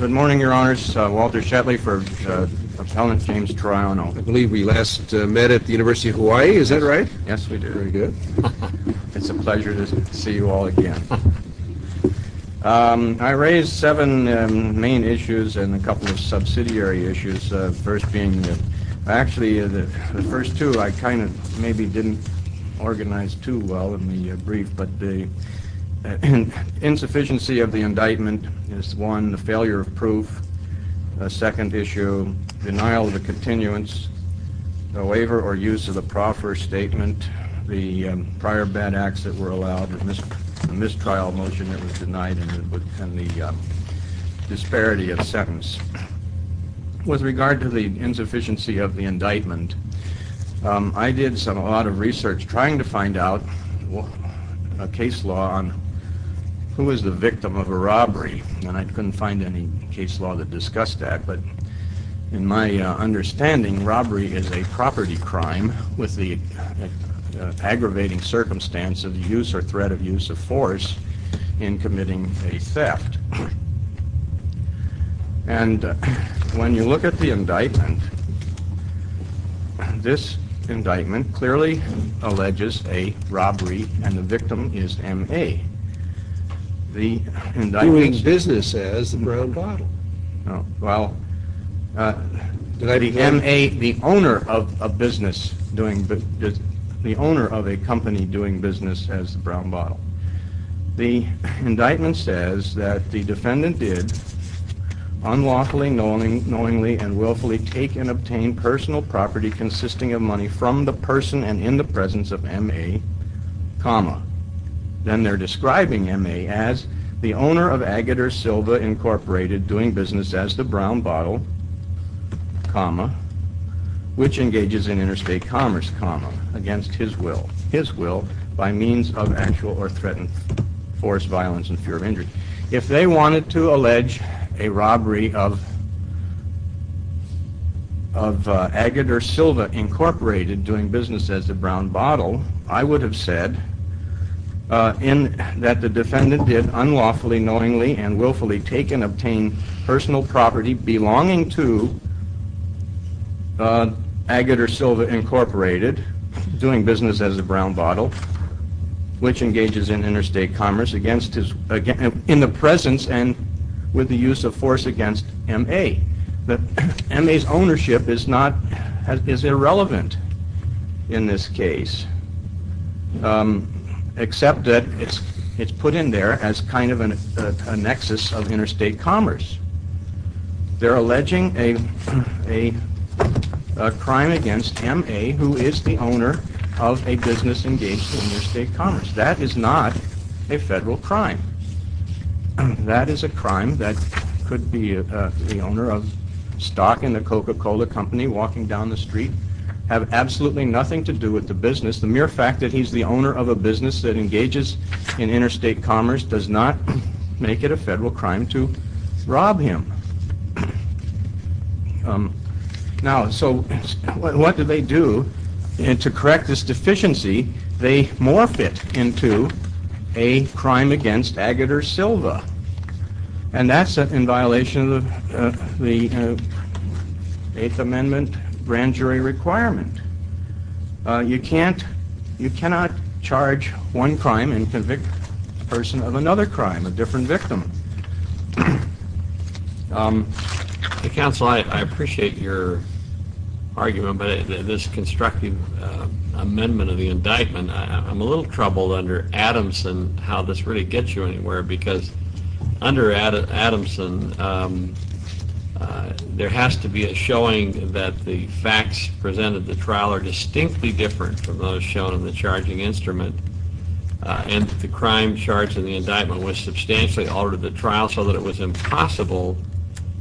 Good morning, Your Honors. Walter Shetley for Appellant James Troiano. I believe we last met at the University of Hawaii, is that right? Yes, we did. Very good. It's a pleasure to see you all again. I raised seven main issues and a couple of subsidiary issues. First being, actually the first two I kind of maybe didn't organize too well in the brief, but the insufficiency of the indictment is one, the failure of proof, a second issue, denial of the continuance, the waiver or use of the proffer statement, the prior bad acts that were allowed, the mistrial motion that was denied, and the disparity of sentence. With regard to the insufficiency of the indictment, I did a lot of research trying to find out a case law on who is the victim of a robbery, and I couldn't find any case law that discussed that, but in my understanding, robbery is a property crime with the aggravating circumstance of the use or threat of use of force in committing a theft. And when you look at the indictment, this indictment clearly alleges a robbery and the victim is M.A. Doing business as the brown bottle. Well, the M.A., the owner of a business, the owner of a company doing business as the brown bottle. The indictment says that the defendant did unlawfully, knowingly, and willfully take and obtain personal property consisting of money from the person and in the presence of M.A., then they're describing M.A. as the owner of Agater Silva Incorporated doing business as the brown bottle, comma, which engages in interstate commerce, comma, against his will, his will by means of actual or threatened force, violence, and fear of injury. If they wanted to allege a robbery of Agater Silva Incorporated doing business as the brown bottle, I would have said that the defendant did unlawfully, knowingly, and willfully take and obtain personal property belonging to Agater Silva Incorporated doing business as the brown bottle, which engages in interstate commerce in the presence and with the use of force against M.A. M.A.'s ownership is irrelevant in this case, except that it's put in there as kind of a nexus of interstate commerce. They're alleging a crime against M.A. who is the owner of a business engaged in interstate commerce. That is not a federal crime. That is a crime that could be the owner of stock in the Coca-Cola company walking down the street, have absolutely nothing to do with the business. The mere fact that he's the owner of a business that engages in interstate commerce does not make it a federal crime to rob him. Now, so what do they do? And to correct this deficiency, they morph it into a crime against Agater Silva. And that's in violation of the Eighth Amendment grand jury requirement. You cannot charge one crime and convict the person of another crime, a different victim. Counsel, I appreciate your argument, but this constructive amendment of the indictment, I'm a little troubled under Adamson how this really gets you anywhere, because under Adamson, there has to be a showing that the facts presented at the trial are distinctly different from those shown in the charging instrument, and that the crime charged in the indictment was substantially altered at the trial so that it was impossible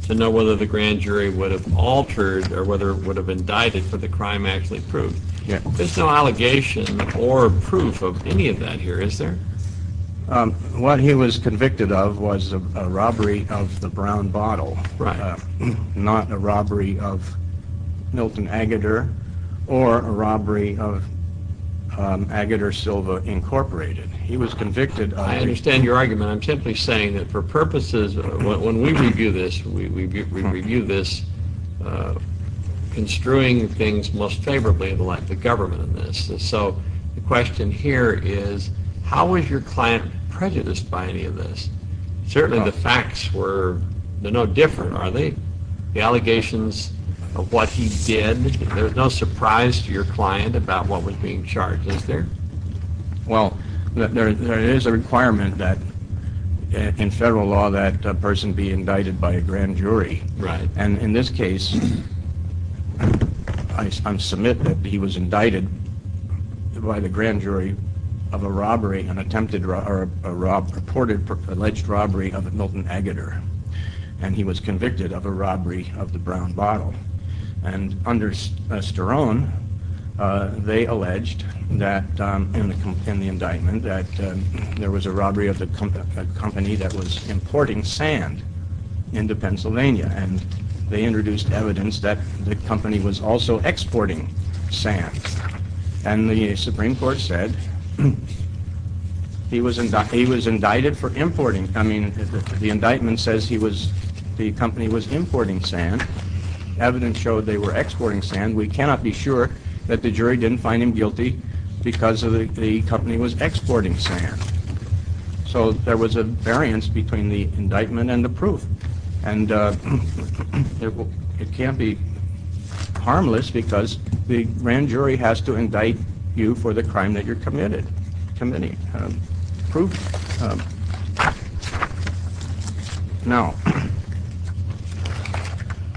to know whether the grand jury would have altered or whether it would have indicted for the crime actually proved. There's no allegation or proof of any of that here, is there? What he was convicted of was a robbery of the brown bottle, not a robbery of Milton Agater or a robbery of Agater Silva, Incorporated. He was convicted of... I understand your argument. I'm simply saying that for purposes... When we review this, we review this construing things most favorably of the government in this. So the question here is how was your client prejudiced by any of this? Certainly the facts were no different, are they? The allegations of what he did, there's no surprise to your client about what was being charged, is there? Well, there is a requirement in federal law that a person be indicted by a grand jury. And in this case, I submit that he was indicted by the grand jury of a robbery, an attempted or purported alleged robbery of Milton Agater, and he was convicted of a robbery of the brown bottle. And under Sterone, they alleged that, in the indictment, that there was a robbery of a company that was importing sand into Pennsylvania, and they introduced evidence that the company was also exporting sand. And the Supreme Court said he was indicted for importing. I mean, the indictment says the company was importing sand. Evidence showed they were exporting sand. We cannot be sure that the jury didn't find him guilty because the company was exporting sand. So there was a variance between the indictment and the proof. And it can't be harmless because the grand jury has to indict you for the crime that you're committing. Proof? Now,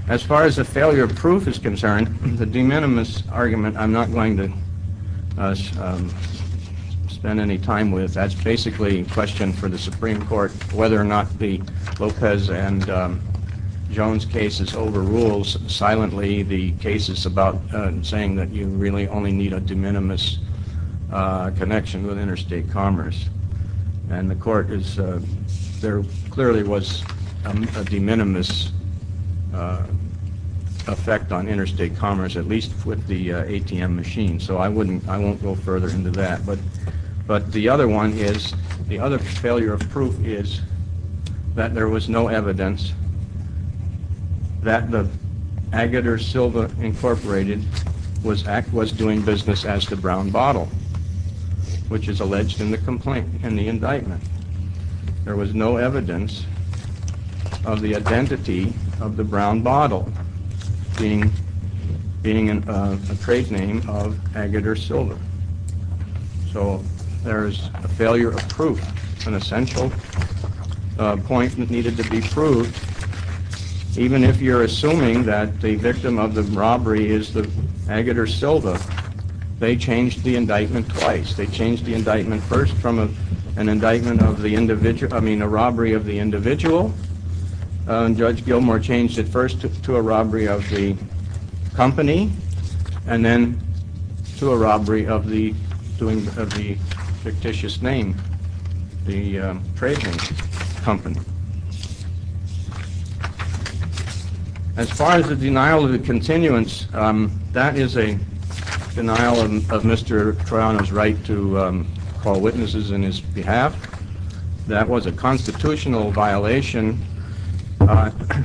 as far as the failure of proof is concerned, the de minimis argument I'm not going to spend any time with. That's basically a question for the Supreme Court whether or not the Lopez and Jones cases overrules silently the cases about saying that you really only need a de minimis connection with interstate commerce. And the court is, there clearly was a de minimis effect on interstate commerce, at least with the ATM machine, so I won't go further into that. But the other one is, the other failure of proof is that there was no evidence that the incorporated was doing business as the Brown Bottle, which is alleged in the indictment. There was no evidence of the identity of the Brown Bottle being a trade name of Agater Silva. So there's a failure of proof, an essential point that needed to be proved, even if you're assuming that the victim of the robbery is the Agater Silva, they changed the indictment twice. They changed the indictment first from an indictment of the individual, I mean a robbery of the individual, and Judge Gilmore changed it first to a robbery of the company, and then to a robbery of the fictitious name, the trading company. As far as the denial of the continuance, that is a denial of Mr. Triano's right to call witnesses in his behalf. That was a constitutional violation.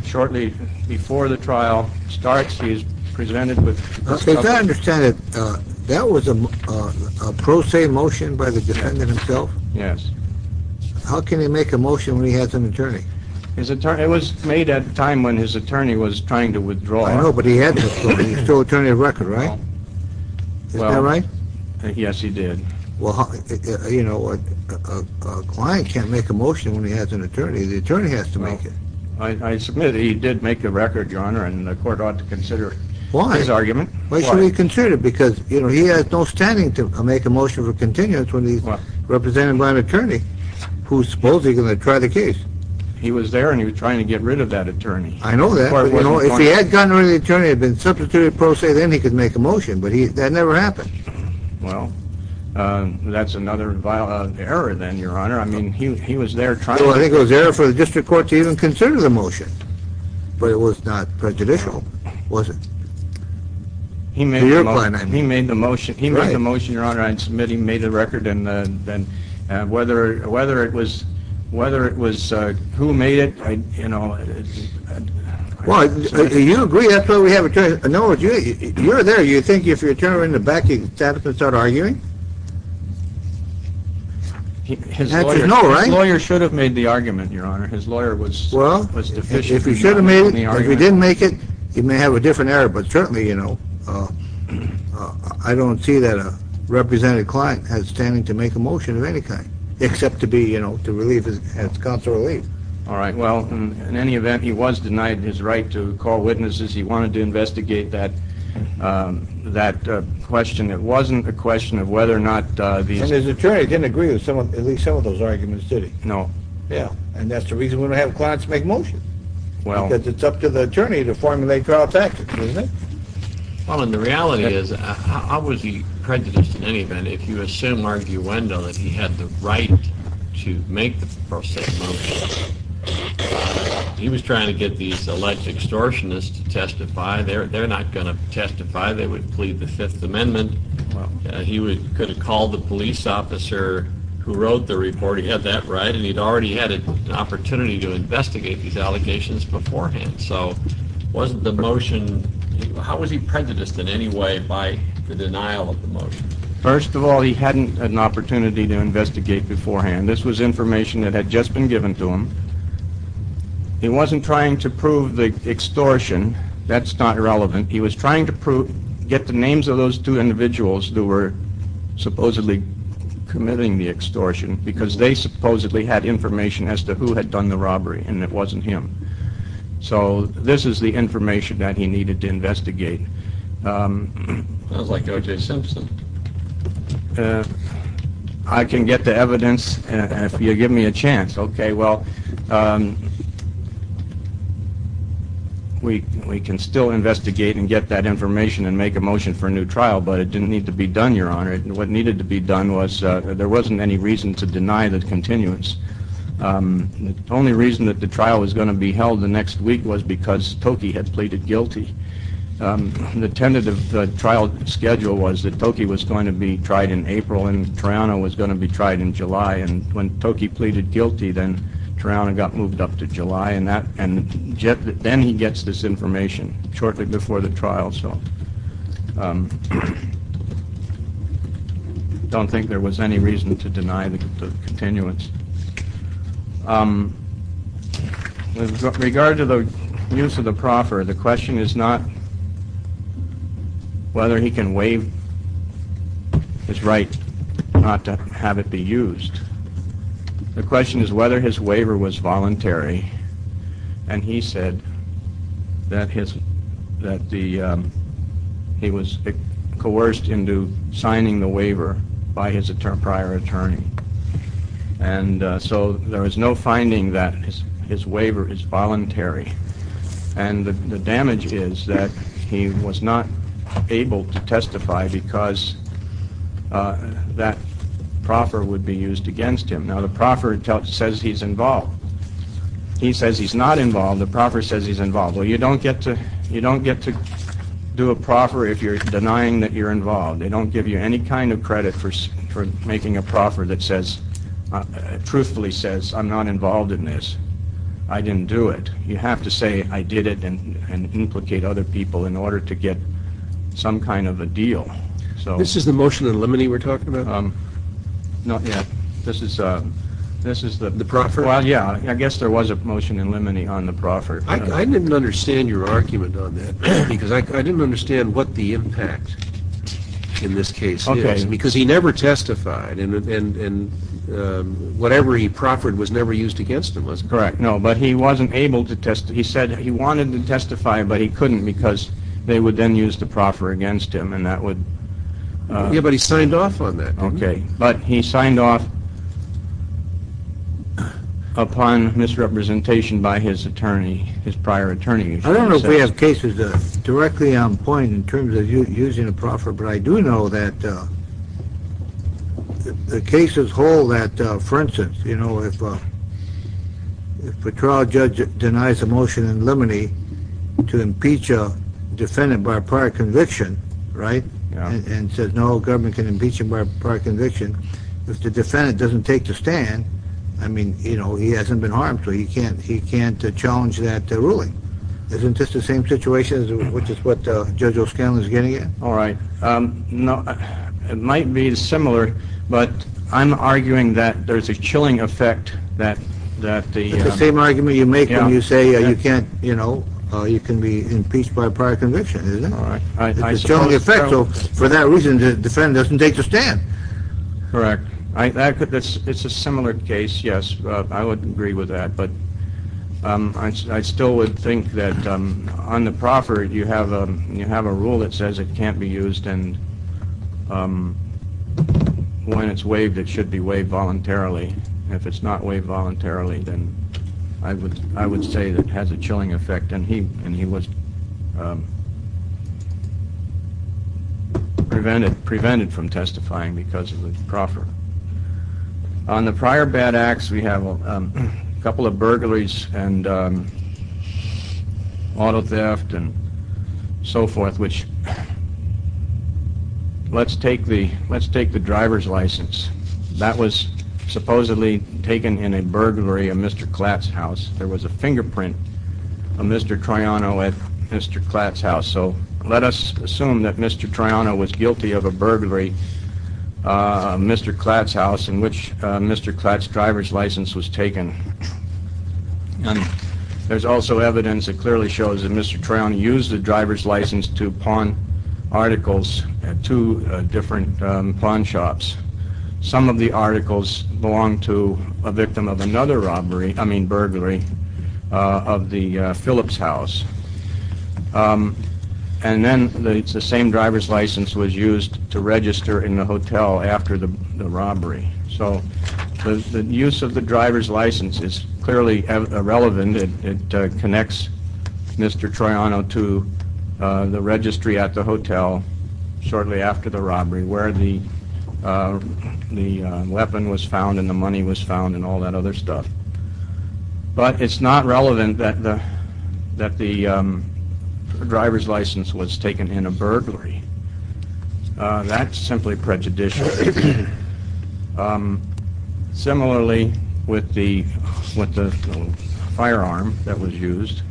Shortly before the trial starts, he is presented with... If I understand it, that was a pro se motion by the defendant himself? Yes. How can he make a motion when he has an attorney? It was made at a time when his attorney was trying to withdraw. I know, but he had to withdraw, he's still an attorney of record, right? Well... Is that right? Yes, he did. Well, you know, a client can't make a motion when he has an attorney, the attorney has to make it. I submit he did make a record, your honor, and the court ought to consider his argument. Why? Why should we consider it? Because he has no standing to make a motion for continuance when he's represented by an attorney, who's supposedly going to try the case. He was there and he was trying to get rid of that attorney. I know that, but if he had gotten rid of the attorney and been substituted pro se, then he could make a motion, but that never happened. Well, that's another error then, your honor. I mean, he was there trying... Well, I think it was an error for the district court to even consider the motion. But it was not prejudicial, was it? To your client, I mean. He made the motion, your honor. I submit he made the record, and whether it was who made it, you know... Well, do you agree that's why we have an attorney? No, you're there. You think if you have an attorney in the back, he's going to start arguing? His lawyer should have made the argument, your honor. His lawyer was deficient. Well, if he should have made it, if he didn't make it, he may have a different error. But certainly, you know, I don't see that a represented client has standing to make a motion of any kind, except to be, you know, to console relief. All right, well, in any event, he was denied his right to call witnesses. He wanted to investigate that question. It wasn't a question of whether or not... And his attorney didn't agree with at least some of those arguments, did he? No. Yeah, and that's the reason we don't have clients make motions. Because it's up to the attorney to formulate trial tactics, isn't it? Well, and the reality is, I would be prejudiced in any event, if you assume arguendo that he had the right to make the forsaken motion. He was trying to get these alleged extortionists to testify. They're not going to testify. They would plead the Fifth Amendment. He could have called the police officer who wrote the report. He had that right, and he'd already had an opportunity to investigate these allegations beforehand. So, wasn't the motion... How was he prejudiced in any way by the denial of the motion? First of all, he hadn't had an opportunity to investigate beforehand. This was information that had just been given to him. He wasn't trying to prove the extortion. That's not relevant. He was trying to get the names of those two individuals who were supposedly committing the extortion, because they supposedly had information as to who had done the robbery, and it wasn't him. So, this is the information that he needed to investigate. Sounds like O.J. Simpson. I can get the evidence if you give me a chance. Okay, well, we can still investigate and get that information and make a motion for a new trial, but it didn't need to be done, Your Honor. What needed to be done was... There wasn't any reason to deny the continuance. The only reason that the trial was going to be held the next week was because Toki had pleaded guilty. The tentative trial schedule was that Toki was going to be tried in April and Tarana was going to be tried in July, and when Toki pleaded guilty, then Tarana got moved up to July, and then he gets this information shortly before the trial. I don't think there was any reason to deny the continuance. With regard to the use of the proffer, the question is not whether he can waive his right not to have it be used. The question is whether his waiver was voluntary, and he said that he was coerced into signing the waiver by his prior attorney, and so there is no finding that his waiver is voluntary, and the damage is that he was not able to testify because that proffer would be used against him. Now, the proffer says he's involved. He says he's not involved. The proffer says he's involved. Well, you don't get to do a proffer if you're denying that you're involved. They don't give you any kind of credit for making a proffer that truthfully says, I'm not involved in this. I didn't do it. You have to say I did it and implicate other people in order to get some kind of a deal. This is the motion in limine we're talking about? No, yeah. This is the... The proffer? Well, yeah. I guess there was a motion in limine on the proffer. I didn't understand your argument on that because I didn't understand what the impact in this case is because he never testified and whatever he proffered was never used against him. That's correct. No, but he wasn't able to testify. He said he wanted to testify, but he couldn't because they would then use the proffer against him and that would... Yeah, but he signed off on that, didn't he? Okay, but he signed off upon misrepresentation by his attorney, his prior attorney. I don't know if we have cases directly on point in terms of using a proffer, but I do know that the cases hold that, for instance, if a trial judge denies a motion in limine to impeach a defendant by a prior conviction, right, and says no, government can impeach him by a prior conviction, if the defendant doesn't take the stand, I mean, he hasn't been harmed, so he can't challenge that ruling. Isn't this the same situation which is what Judge O'Scanlan is getting at? All right. It might be similar, but I'm arguing that there's a chilling effect that the... It's the same argument you make when you say you can't, you know, you can be impeached by a prior conviction, isn't it? It's a chilling effect, so for that reason the defendant doesn't take the stand. Correct. It's a similar case, yes, I would agree with that, but I still would think that on the proffer you have a rule that says it can't be used, and when it's waived it should be waived voluntarily. If it's not waived voluntarily, then I would say that it has a chilling effect, and he was prevented from testifying because of the proffer. On the prior bad acts, we have a couple of burglaries and auto theft and so forth, which, let's take the driver's license. That was supposedly taken in a burglary of Mr. Klatt's house. There was a fingerprint of Mr. Triano at Mr. Klatt's house, so let us assume that Mr. Triano was guilty of a burglary of Mr. Klatt's house in which Mr. Klatt's driver's license was taken. There's also evidence that clearly shows that Mr. Triano used the driver's license to pawn articles at two different pawn shops. Some of the articles belonged to a victim of another robbery, I mean burglary, of the Phillips house, and then the same driver's license was used to register in the hotel after the robbery. So the use of the driver's license is clearly relevant. It connects Mr. Triano to the registry at the hotel shortly after the robbery where the weapon was found and the money was found and all that other stuff. But it's not relevant that the driver's license was taken in a burglary. That's simply prejudicial. Similarly, with the firearm that was used,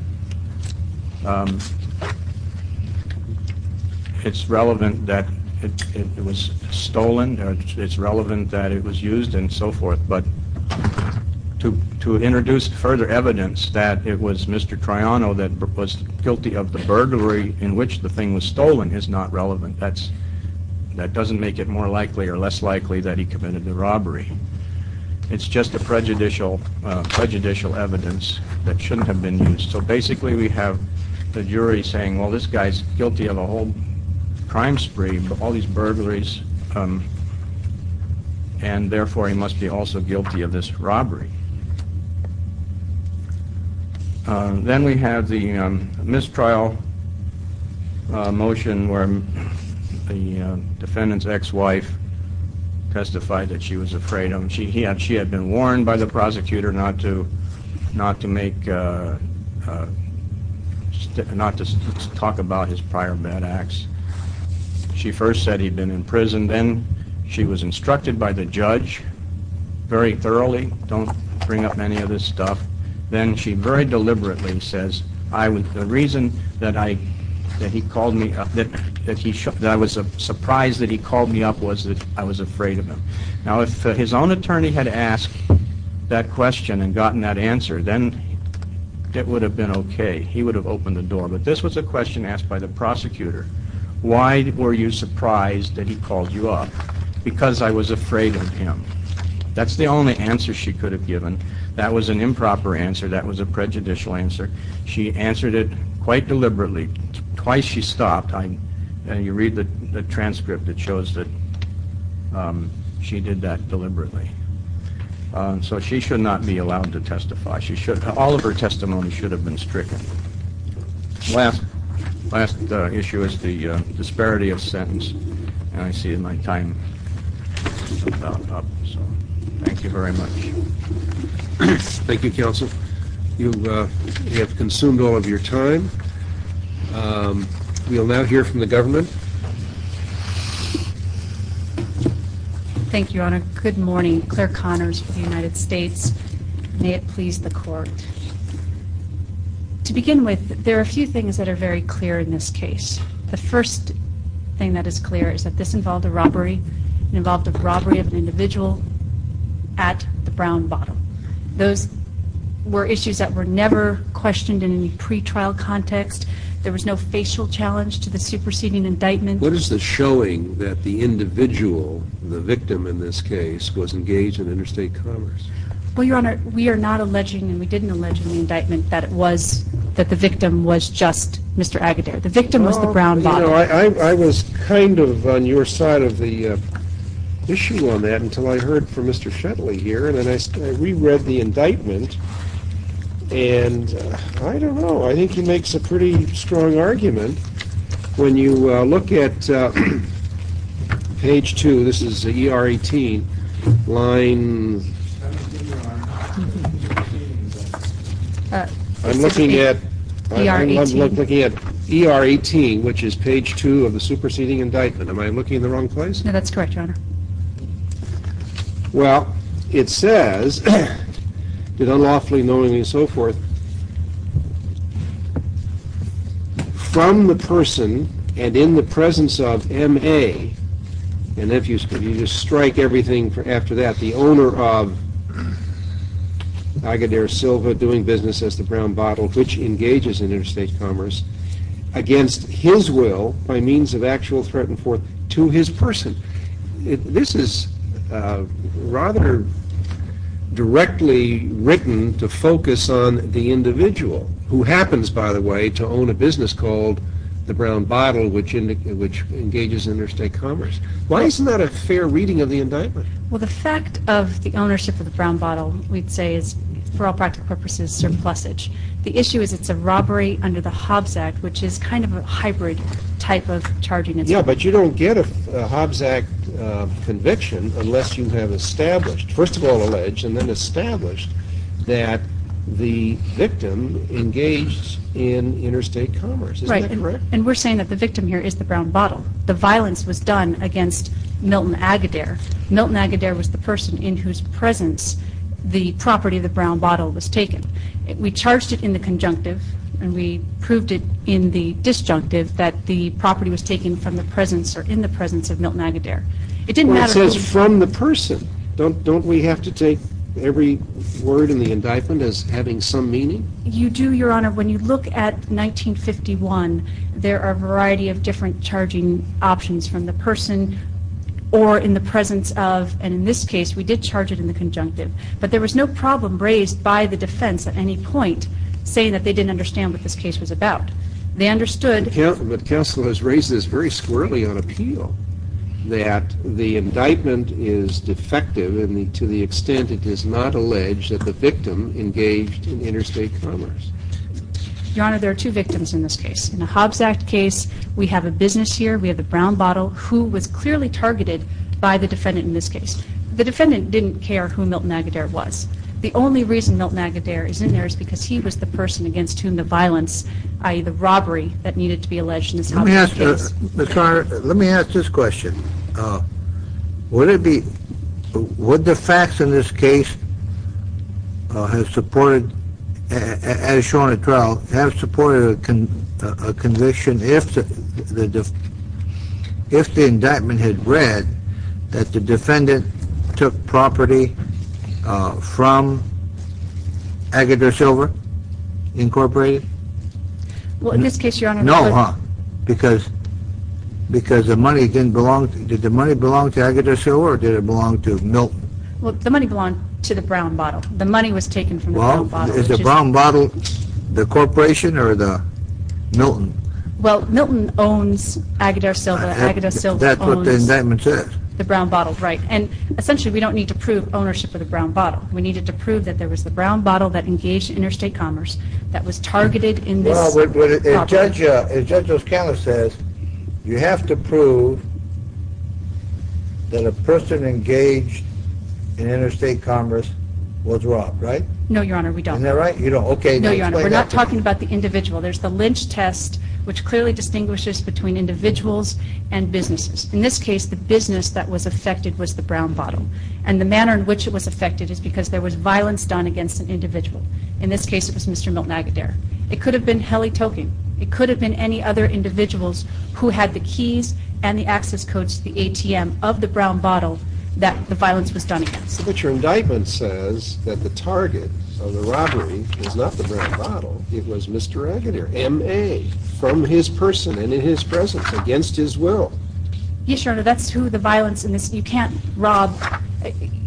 it's relevant that it was stolen, it's relevant that it was used and so forth, but to introduce further evidence that it was Mr. Triano that was guilty of the burglary in which the thing was stolen is not relevant. That doesn't make it more likely or less likely that he committed the robbery. It's just a prejudicial evidence that shouldn't have been used. So basically we have the jury saying, well, this guy's guilty of a whole crime spree, all these burglaries, and therefore he must be also guilty of this robbery. Then we have the mistrial motion where the defendant's ex-wife testified that she was afraid of him. She had been warned by the prosecutor not to talk about his prior bad acts. She first said he'd been in prison. Then she was instructed by the judge very thoroughly, don't bring up any of this stuff. Then she very deliberately says the reason that he called me up, that I was surprised that he called me up was that I was afraid of him. Now if his own attorney had asked that question and gotten that answer, then it would have been okay. He would have opened the door. But this was a question asked by the prosecutor. Why were you surprised that he called you up? Because I was afraid of him. That's the only answer she could have given. That was an improper answer. That was a prejudicial answer. She answered it quite deliberately. Twice she stopped. You read the transcript. It shows that she did that deliberately. So she should not be allowed to testify. All of her testimony should have been stricken. Last issue is the disparity of sentence. I see my time is about up. Thank you very much. Thank you, counsel. You have consumed all of your time. We will now hear from the government. Thank you, Your Honor. Good morning. Claire Connors for the United States. May it please the Court. To begin with, there are a few things that are very clear in this case. The first thing that is clear is that this involved a robbery. It involved a robbery of an individual at the Brown Bottle. Those were issues that were never questioned in any pretrial context. There was no facial challenge to the superseding indictment. What is the showing that the individual, the victim in this case, was engaged in interstate commerce? Well, Your Honor, we are not alleging and we didn't allege in the indictment that the victim was just Mr. Agudero. The victim was the Brown Bottle. I was kind of on your side of the issue on that until I heard from Mr. Shetley here, and then I reread the indictment. And I don't know. I think he makes a pretty strong argument. When you look at page 2, this is ER 18, line... I'm looking at ER 18, which is page 2 of the superseding indictment. Am I looking in the wrong place? No, that's correct, Your Honor. Well, it says, unlawfully knowingly and so forth, from the person and in the presence of M.A., and if you strike everything after that, the owner of Agudero Silva doing business as the Brown Bottle, which engages in interstate commerce, against his will by means of actual threat and forth to his person. This is rather directly written to focus on the individual, who happens, by the way, to own a business called the Brown Bottle, which engages interstate commerce. Why isn't that a fair reading of the indictment? Well, the fact of the ownership of the Brown Bottle, we'd say, is for all practical purposes surplusage. The issue is it's a robbery under the Hobbs Act, which is kind of a hybrid type of charging. Yeah, but you don't get a Hobbs Act conviction unless you have established, first of all alleged, and then established that the victim engaged in interstate commerce. Right, and we're saying that the victim here is the Brown Bottle. The violence was done against Milton Agudero. Milton Agudero was the person in whose presence the property of the Brown Bottle was taken. We charged it in the conjunctive, and we proved it in the disjunctive, that the property was taken in the presence of Milton Agudero. Well, it says from the person. Don't we have to take every word in the indictment as having some meaning? You do, Your Honor. When you look at 1951, there are a variety of different charging options from the person or in the presence of, and in this case, we did charge it in the conjunctive. But there was no problem raised by the defense at any point saying that they didn't understand what this case was about. They understood. But counsel has raised this very squirrelly on appeal that the indictment is defective to the extent it does not allege that the victim engaged in interstate commerce. Your Honor, there are two victims in this case. In the Hobbs Act case, we have a business here, we have the Brown Bottle, who was clearly targeted by the defendant in this case. The defendant didn't care who Milton Agudero was. The only reason Milton Agudero is in there is because he was the person against whom the violence, i.e., the robbery that needed to be alleged in this Hobbs case. Let me ask this question. Would the facts in this case have supported, as shown at trial, have supported a conviction if the indictment had read that the defendant took property from Agudero Silver Incorporated? Well, in this case, Your Honor, No, huh? Because the money didn't belong to, did the money belong to Agudero Silver or did it belong to Milton? Well, the money belonged to the Brown Bottle. The money was taken from the Brown Bottle. Well, is the Brown Bottle the corporation or the Milton? Well, Milton owns Agudero Silver. That's what the indictment says. The Brown Bottle, right. And essentially, we don't need to prove ownership of the Brown Bottle. We needed to prove that there was the Brown Bottle that engaged interstate commerce that was targeted in this Hobbs case. Well, as Judge O'Scala says, you have to prove that a person engaged in interstate commerce was robbed, right? No, Your Honor, we don't. Isn't that right? You don't. Okay. No, Your Honor, we're not talking about the individual. There's the Lynch test, which clearly distinguishes between individuals and businesses. In this case, the business that was affected was the Brown Bottle. And the manner in which it was affected is because there was violence done against an individual. In this case, it was Mr. Milton Agudero. It could have been Heli Tokin. It could have been any other individuals who had the keys and the access codes to the ATM of the Brown Bottle that the violence was done against. But your indictment says that the target of the robbery was not the Brown Bottle. It was Mr. Agudero, M.A., from his person and in his presence, against his will. Yes, Your Honor, that's who the violence is. You can't rob.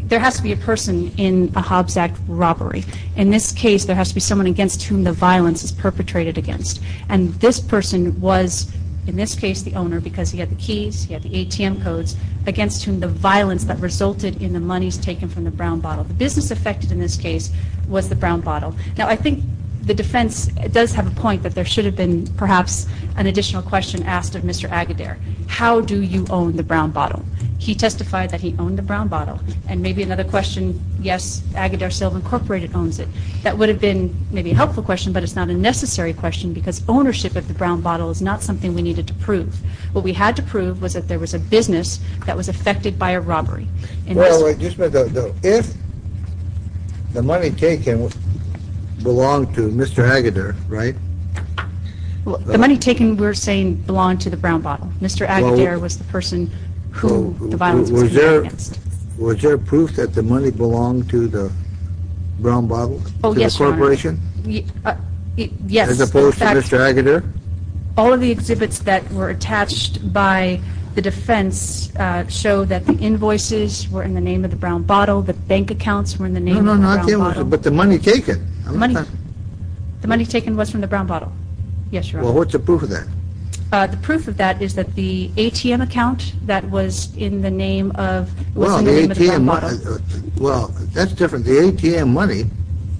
There has to be a person in a Hobbs Act robbery. In this case, there has to be someone against whom the violence is perpetrated against. And this person was, in this case, the owner because he had the keys, he had the ATM codes, against whom the violence that resulted in the monies taken from the Brown Bottle. The business affected in this case was the Brown Bottle. Now, I think the defense does have a point that there should have been perhaps an additional question asked of Mr. Agudero. How do you own the Brown Bottle? He testified that he owned the Brown Bottle. And maybe another question, yes, Agudero Silk Incorporated owns it. That would have been maybe a helpful question, but it's not a necessary question because ownership of the Brown Bottle is not something we needed to prove. What we had to prove was that there was a business that was affected by a robbery. If the money taken belonged to Mr. Agudero, right? The money taken we're saying belonged to the Brown Bottle. Mr. Agudero was the person who the violence was perpetrated against. Was there proof that the money belonged to the Brown Bottle, to the corporation? Yes. As opposed to Mr. Agudero? All of the exhibits that were attached by the defense show that the invoices were in the name of the Brown Bottle, the bank accounts were in the name of the Brown Bottle. No, no, but the money taken. The money taken was from the Brown Bottle. Well, what's the proof of that? The proof of that is that the ATM account that was in the name of the Brown Bottle. Well, that's different. The ATM money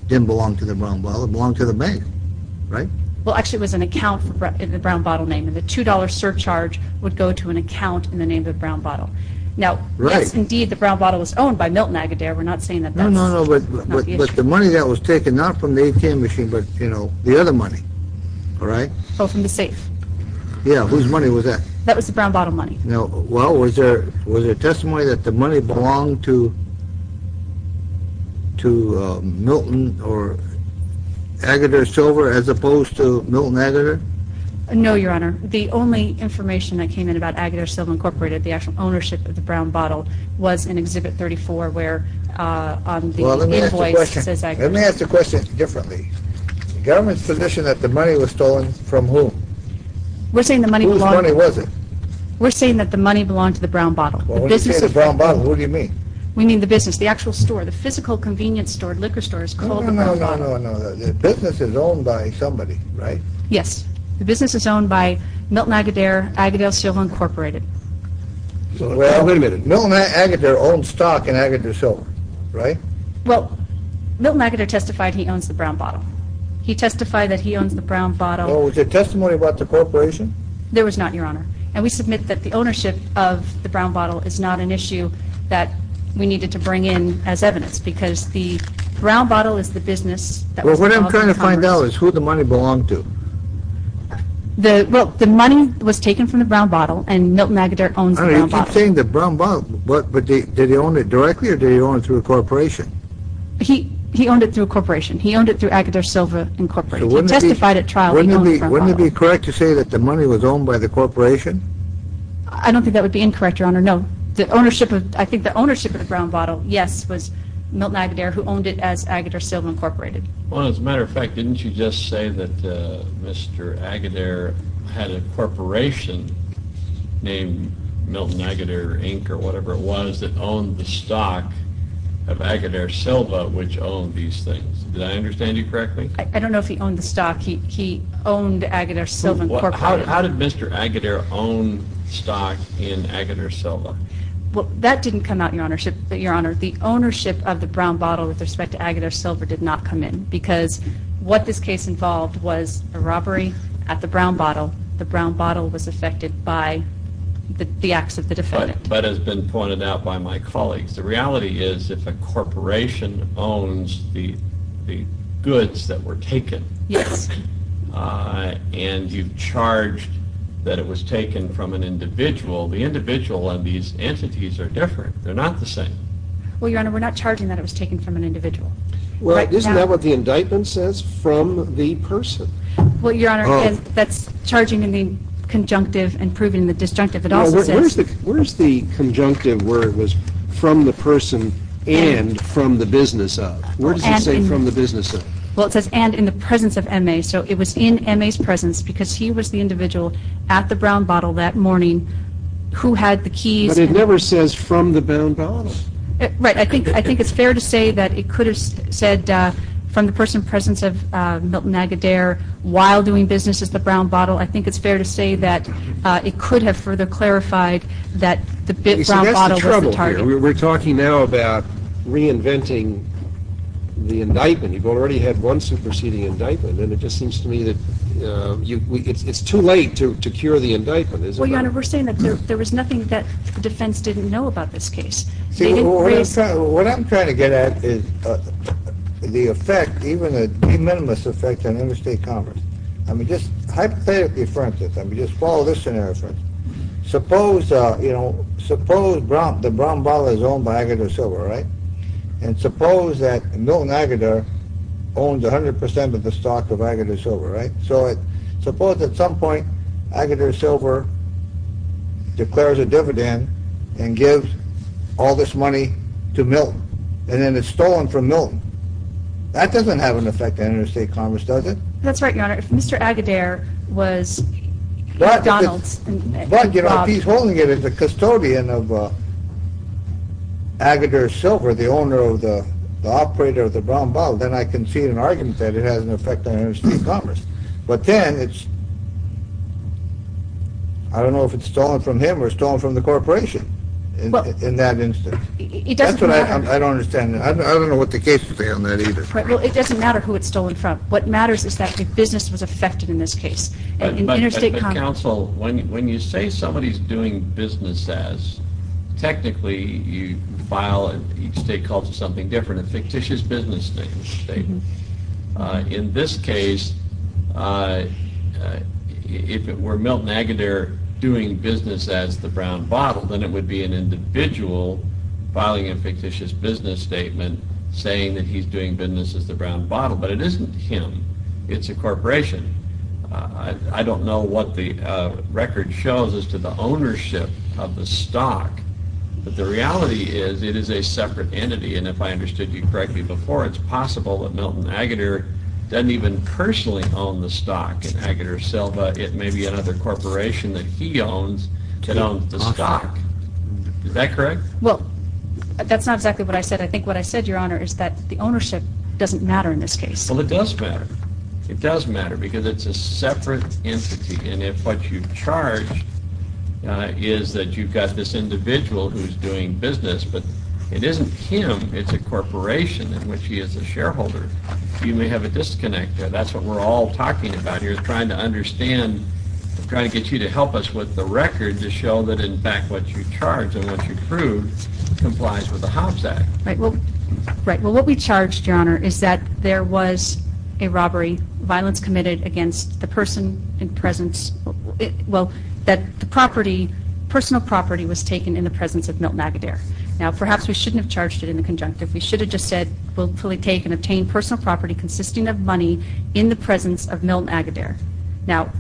didn't belong to the Brown Bottle. It belonged to the bank, right? Well, actually, it was an account in the Brown Bottle name. The $2 surcharge would go to an account in the name of the Brown Bottle. Now, yes, indeed, the Brown Bottle was owned by Milton Agudero. We're not saying that that's not the issue. No, no, but the money that was taken, not from the ATM machine, but the other money, right? Oh, from the safe. Yeah, whose money was that? That was the Brown Bottle money. Now, well, was there testimony that the money belonged to Milton or Agudero Silver as opposed to Milton Agudero? No, Your Honor. The only information that came in about Agudero Silver Incorporated, the actual ownership of the Brown Bottle, was in Exhibit 34 where the invoice says Agudero. Well, let me ask you a question. Let me ask the question differently. The government's position that the money was stolen from whom? Whose money was it? We're saying that the money belonged to the Brown Bottle. Well, when you say the Brown Bottle, what do you mean? We mean the business, the actual store, the physical convenience store, liquor store, is called the Brown Bottle. No, no, no, no, no. The business is owned by somebody, right? Yes. The business is owned by Milton Agudero, Agudero Silver Incorporated. Well, wait a minute. Milton Agudero owned stock in Agudero Silver, right? Well, Milton Agudero testified he owns the Brown Bottle. He testified that he owns the Brown Bottle. Well, was there testimony about the corporation? There was not, Your Honor. And we submit that the ownership of the Brown Bottle is not an issue that we needed to bring in as evidence because the Brown Bottle is the business that was involved in the Congress. Well, what I'm trying to find out is who the money belonged to. Well, the money was taken from the Brown Bottle and Milton Agudero owns the Brown Bottle. You keep saying the Brown Bottle, but did he own it directly or did he own it through a corporation? He owned it through a corporation. He owned it through Agudero Silver Incorporated. He testified at trial that he owns the Brown Bottle. Wouldn't it be correct to say that the money was owned by the corporation? I don't think that would be incorrect, Your Honor. No. I think the ownership of the Brown Bottle, yes, was Milton Agudero who owned it as Agudero Silver Incorporated. Well, as a matter of fact, didn't you just say that Mr. Agudero had a corporation named Milton Agudero Inc. or whatever it was that owned the stock of Agudero Silver which owned these things? Did I understand you correctly? I don't know if he owned the stock. He owned Agudero Silver Incorporated. How did Mr. Agudero own stock in Agudero Silver? Well, that didn't come out, Your Honor. The ownership of the Brown Bottle with respect to Agudero Silver did not come in because what this case involved was a robbery at the Brown Bottle. The Brown Bottle was affected by the acts of the defendant. But as has been pointed out by my colleagues, the reality is if a corporation owns the goods that were taken and you've charged that it was taken from an individual, the individual and these entities are different. They're not the same. Well, Your Honor, we're not charging that it was taken from an individual. Well, isn't that what the indictment says, from the person? Well, Your Honor, that's charging in the conjunctive and proving the disjunctive. Where's the conjunctive where it was from the person and from the business of? Where does it say from the business of? Well, it says and in the presence of M.A. So it was in M.A.'s presence because he was the individual at the Brown Bottle that morning who had the keys. But it never says from the Brown Bottle. Right. I think it's fair to say that it could have said from the person in the presence of Milton Agudero while doing business at the Brown Bottle. I think it's fair to say that it could have further clarified that the Brown Bottle was the target. See, that's the trouble here. We're talking now about reinventing the indictment. You've already had one superseding indictment, and it just seems to me that it's too late to cure the indictment. Well, Your Honor, we're saying that there was nothing that defense didn't know about this case. See, what I'm trying to get at is the effect, even a de minimis effect on interstate commerce. I mean, just hypothetically, for instance, I mean, just follow this scenario, for instance. Suppose, you know, suppose the Brown Bottle is owned by Agudero Silver, right? And suppose that Milton Agudero owns 100% of the stock of Agudero Silver, right? So suppose at some point Agudero Silver declares a dividend and gives all this money to Milton. And then it's stolen from Milton. That doesn't have an effect on interstate commerce, does it? That's right, Your Honor. If Mr. Agudero was McDonald's... But, you know, if he's holding it as a custodian of Agudero Silver, the owner of the operator of the Brown Bottle, then I can see an argument that it has an effect on interstate commerce. But then it's, I don't know if it's stolen from him or stolen from the corporation in that instance. It doesn't matter. That's what I don't understand. I don't know what the case would be on that either. Well, it doesn't matter who it's stolen from. What matters is that the business was affected in this case. In interstate commerce... But, counsel, when you say somebody's doing business as, technically you file, each state calls it something different, a fictitious business statement. In this case, if it were Milton Agudero doing business as the Brown Bottle, then it would be an individual filing a fictitious business statement saying that he's doing business as the Brown Bottle. But it isn't him. It's a corporation. I don't know what the record shows as to the ownership of the stock, but the reality is it is a separate entity, and if I understood you correctly before, it's possible that Milton Agudero doesn't even personally own the stock in Agudero Silver. It may be another corporation that he owns that owns the stock. Is that correct? Well, that's not exactly what I said. I think what I said, Your Honor, is that the ownership doesn't matter in this case. Well, it does matter. It does matter because it's a separate entity, and if what you charge is that you've got this individual who's doing business, but it isn't him. It's a corporation in which he is a shareholder. You may have a disconnect there. That's what we're all talking about here is trying to understand, trying to get you to help us with the record to show that, in fact, what you charge and what you prove complies with the Hobbs Act. Right. Well, what we charged, Your Honor, is that there was a robbery, violence committed against the person in presence. Well, that the property, personal property, was taken in the presence of Milton Agudero. Now, perhaps we shouldn't have charged it in the conjunctive. We should have just said, we'll fully take and obtain personal property consisting of money in the presence of Milton Agudero. Now,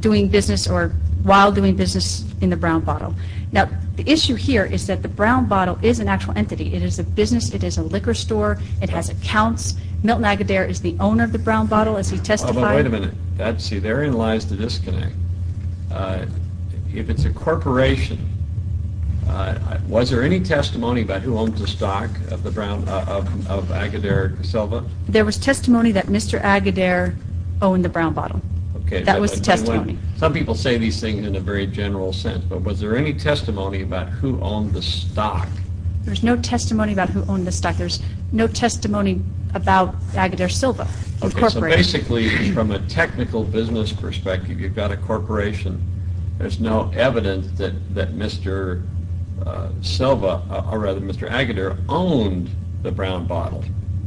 doing business or while doing business in the Brown Bottle. Now, the issue here is that the Brown Bottle is an actual entity. It is a business. It is a liquor store. It has accounts. Milton Agudero is the owner of the Brown Bottle, as he testified. Wait a minute. See, therein lies the disconnect. If it's a corporation, was there any testimony about who owns the stock of Agudero Caselva? There was testimony that Mr. Agudero owned the Brown Bottle. Okay. That was the testimony. but was there any testimony about who owned the stock? There's no testimony about who owned the stock. There's no testimony about Agudero Caselva. Basically, from a technical business perspective, you've got a corporation. There's no evidence that Mr. Agudero owned the Brown Bottle,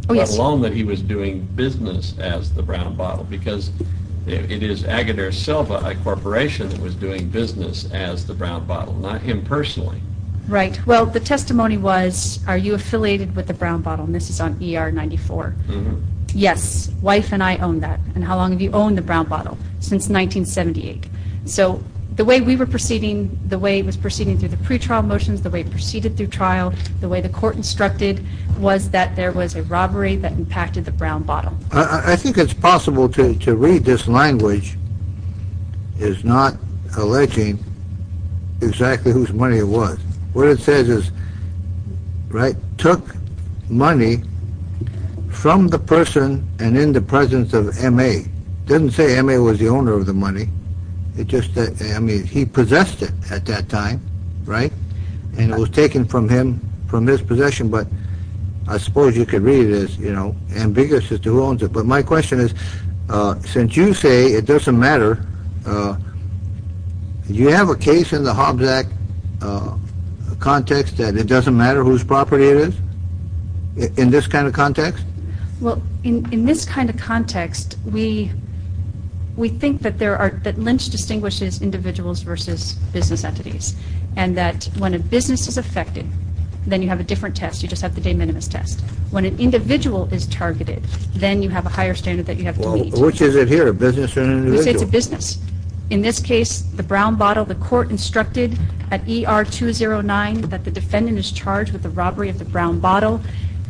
let alone that he was doing business as the Brown Bottle, because it is Agudero Caselva, a corporation, that was doing business as the Brown Bottle, not him personally. Right. Well, the testimony was, are you affiliated with the Brown Bottle? And this is on ER 94. Yes. Wife and I own that. And how long have you owned the Brown Bottle? Since 1978. So the way we were proceeding, the way it was proceeding through the pretrial motions, the way it proceeded through trial, the way the court instructed, was that there was a robbery that impacted the Brown Bottle. I think it's possible to read this language as not alleging exactly whose money it was. What it says is, right, took money from the person and in the presence of M.A. It doesn't say M.A. was the owner of the money. It just, I mean, he possessed it at that time, right? And it was taken from him, from his possession, but I suppose you could read it as, you know, ambiguous as to who owns it. But my question is, since you say it doesn't matter, do you have a case in the Hobbs Act context that it doesn't matter whose property it is in this kind of context? Well, in this kind of context, we think that there are, that Lynch distinguishes individuals versus business entities and that when a business is affected, then you have a different test. You just have the de minimis test. When an individual is targeted, then you have a higher standard that you have to meet. Well, which is it here, a business or an individual? We say it's a business. In this case, the Brown Bottle, the court instructed at ER 209 that the defendant is charged with the robbery of the Brown Bottle.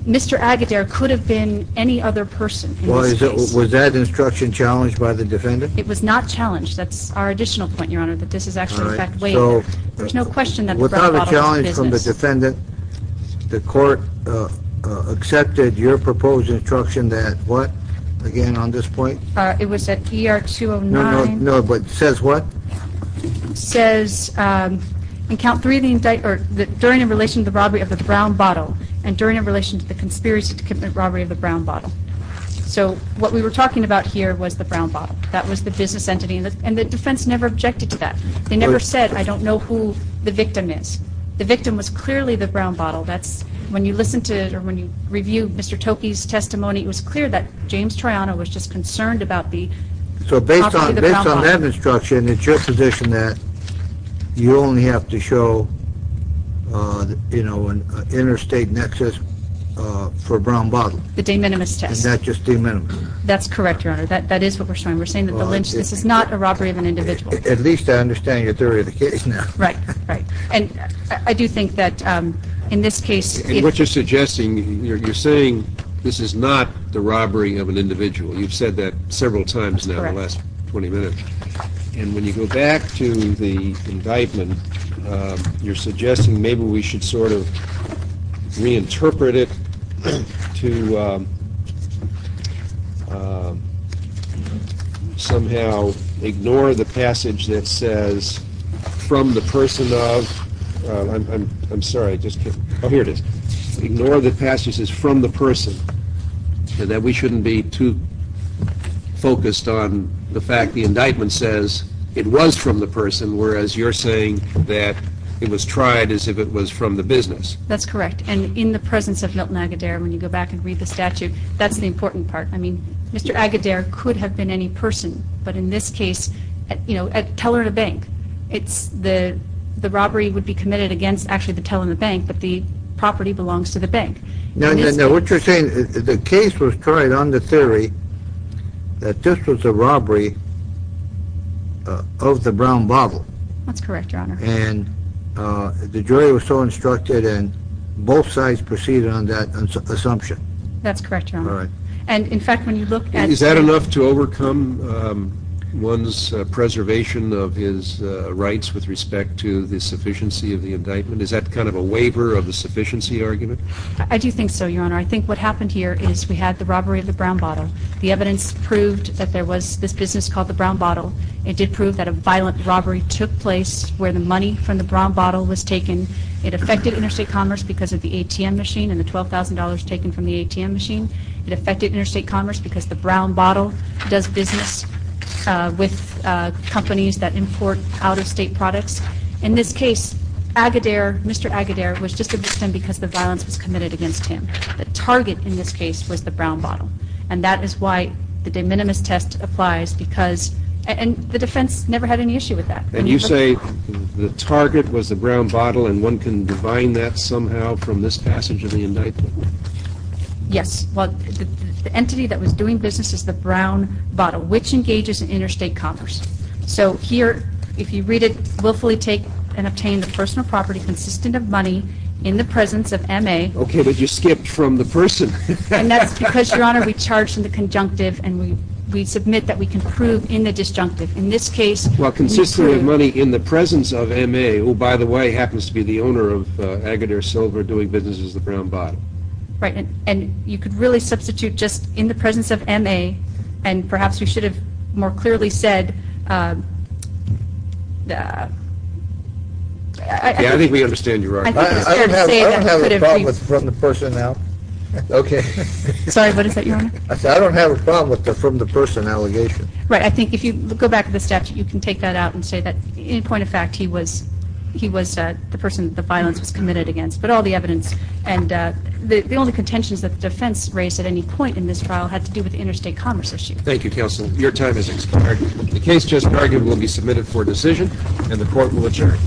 Mr. Agadir could have been any other person in this case. Was that instruction challenged by the defendant? It was not challenged. That's our additional point, Your Honor, that this is actually in fact way more. There's no question that the Brown Bottle is a business. It was not challenged from the defendant. The court accepted your proposed instruction that what, again, on this point? It was at ER 209. No, but it says what? It says in Count 3, during a relation to the robbery of the Brown Bottle and during a relation to the conspiracy to commit robbery of the Brown Bottle. So what we were talking about here was the Brown Bottle. That was the business entity, and the defense never objected to that. They never said, I don't know who the victim is. The victim was clearly the Brown Bottle. When you listen to it or when you review Mr. Toki's testimony, it was clear that James Troiano was just concerned about the property of the Brown Bottle. So based on that instruction, it's your position that you only have to show an interstate nexus for Brown Bottle? The de minimis test. Is that just de minimis? That's correct, Your Honor. That is what we're showing. We're saying that this is not a robbery of an individual. At least I understand your theory of the case now. Right, right. And I do think that in this case... And what you're suggesting, you're saying this is not the robbery of an individual. You've said that several times now in the last 20 minutes. And when you go back to the indictment, you're suggesting maybe we should sort of reinterpret it to somehow ignore the passage that says, from the person of... I'm sorry, I'm just kidding. Oh, here it is. Ignore the passage that says, from the person. That we shouldn't be too focused on the fact the indictment says it was from the person, whereas you're saying that it was tried as if it was from the business. That's correct. And in the presence of Milton Agudero, when you go back and read the statute, that's the important part. I mean, Mr. Agudero could have been any person. But in this case, you know, a teller at a bank. The robbery would be committed against actually the teller in the bank, but the property belongs to the bank. No, no, no. But you're saying the case was tried on the theory that this was a robbery of the brown bottle. That's correct, Your Honor. And the jury was so instructed and both sides proceeded on that assumption. That's correct, Your Honor. All right. And, in fact, when you look at... Is that enough to overcome one's preservation of his rights with respect to the sufficiency of the indictment? Is that kind of a waiver of the sufficiency argument? I do think so, Your Honor. I think what happened here is we had the robbery of the brown bottle. The evidence proved that there was this business called the brown bottle. It did prove that a violent robbery took place where the money from the brown bottle was taken. It affected interstate commerce because of the ATM machine and the $12,000 taken from the ATM machine. It affected interstate commerce because the brown bottle does business with companies that import out-of-state products. In this case, Agadir, Mr. Agadir, was just abused because the violence was committed against him. The target, in this case, was the brown bottle. And that is why the de minimis test applies because... And the defense never had any issue with that. And you say the target was the brown bottle and one can divine that somehow from this passage of the indictment? Yes. Well, the entity that was doing business is the brown bottle, which engages interstate commerce. So here, if you read it, willfully take and obtain the personal property consistent of money in the presence of M.A. Okay, but you skipped from the person. And that's because, Your Honor, we charge from the conjunctive and we submit that we can prove in the disjunctive. In this case... Well, consistent of money in the presence of M.A. who, by the way, happens to be the owner of Agadir Silver doing business with the brown bottle. Right. And you could really substitute just in the presence of M.A. And perhaps we should have more clearly said... Yeah, I think we understand you, Your Honor. I don't have a problem with the from the person now. Okay. Sorry, what is that, Your Honor? I said I don't have a problem with the from the person allegation. Right, I think if you go back to the statute, you can take that out and say that, in point of fact, he was the person that the violence was committed against. But all the evidence and the only contentions that the defense raised at any point in this trial had to do with the interstate commerce issue. Thank you, counsel. Your time has expired. The case just argued will be submitted for decision and the court will adjourn.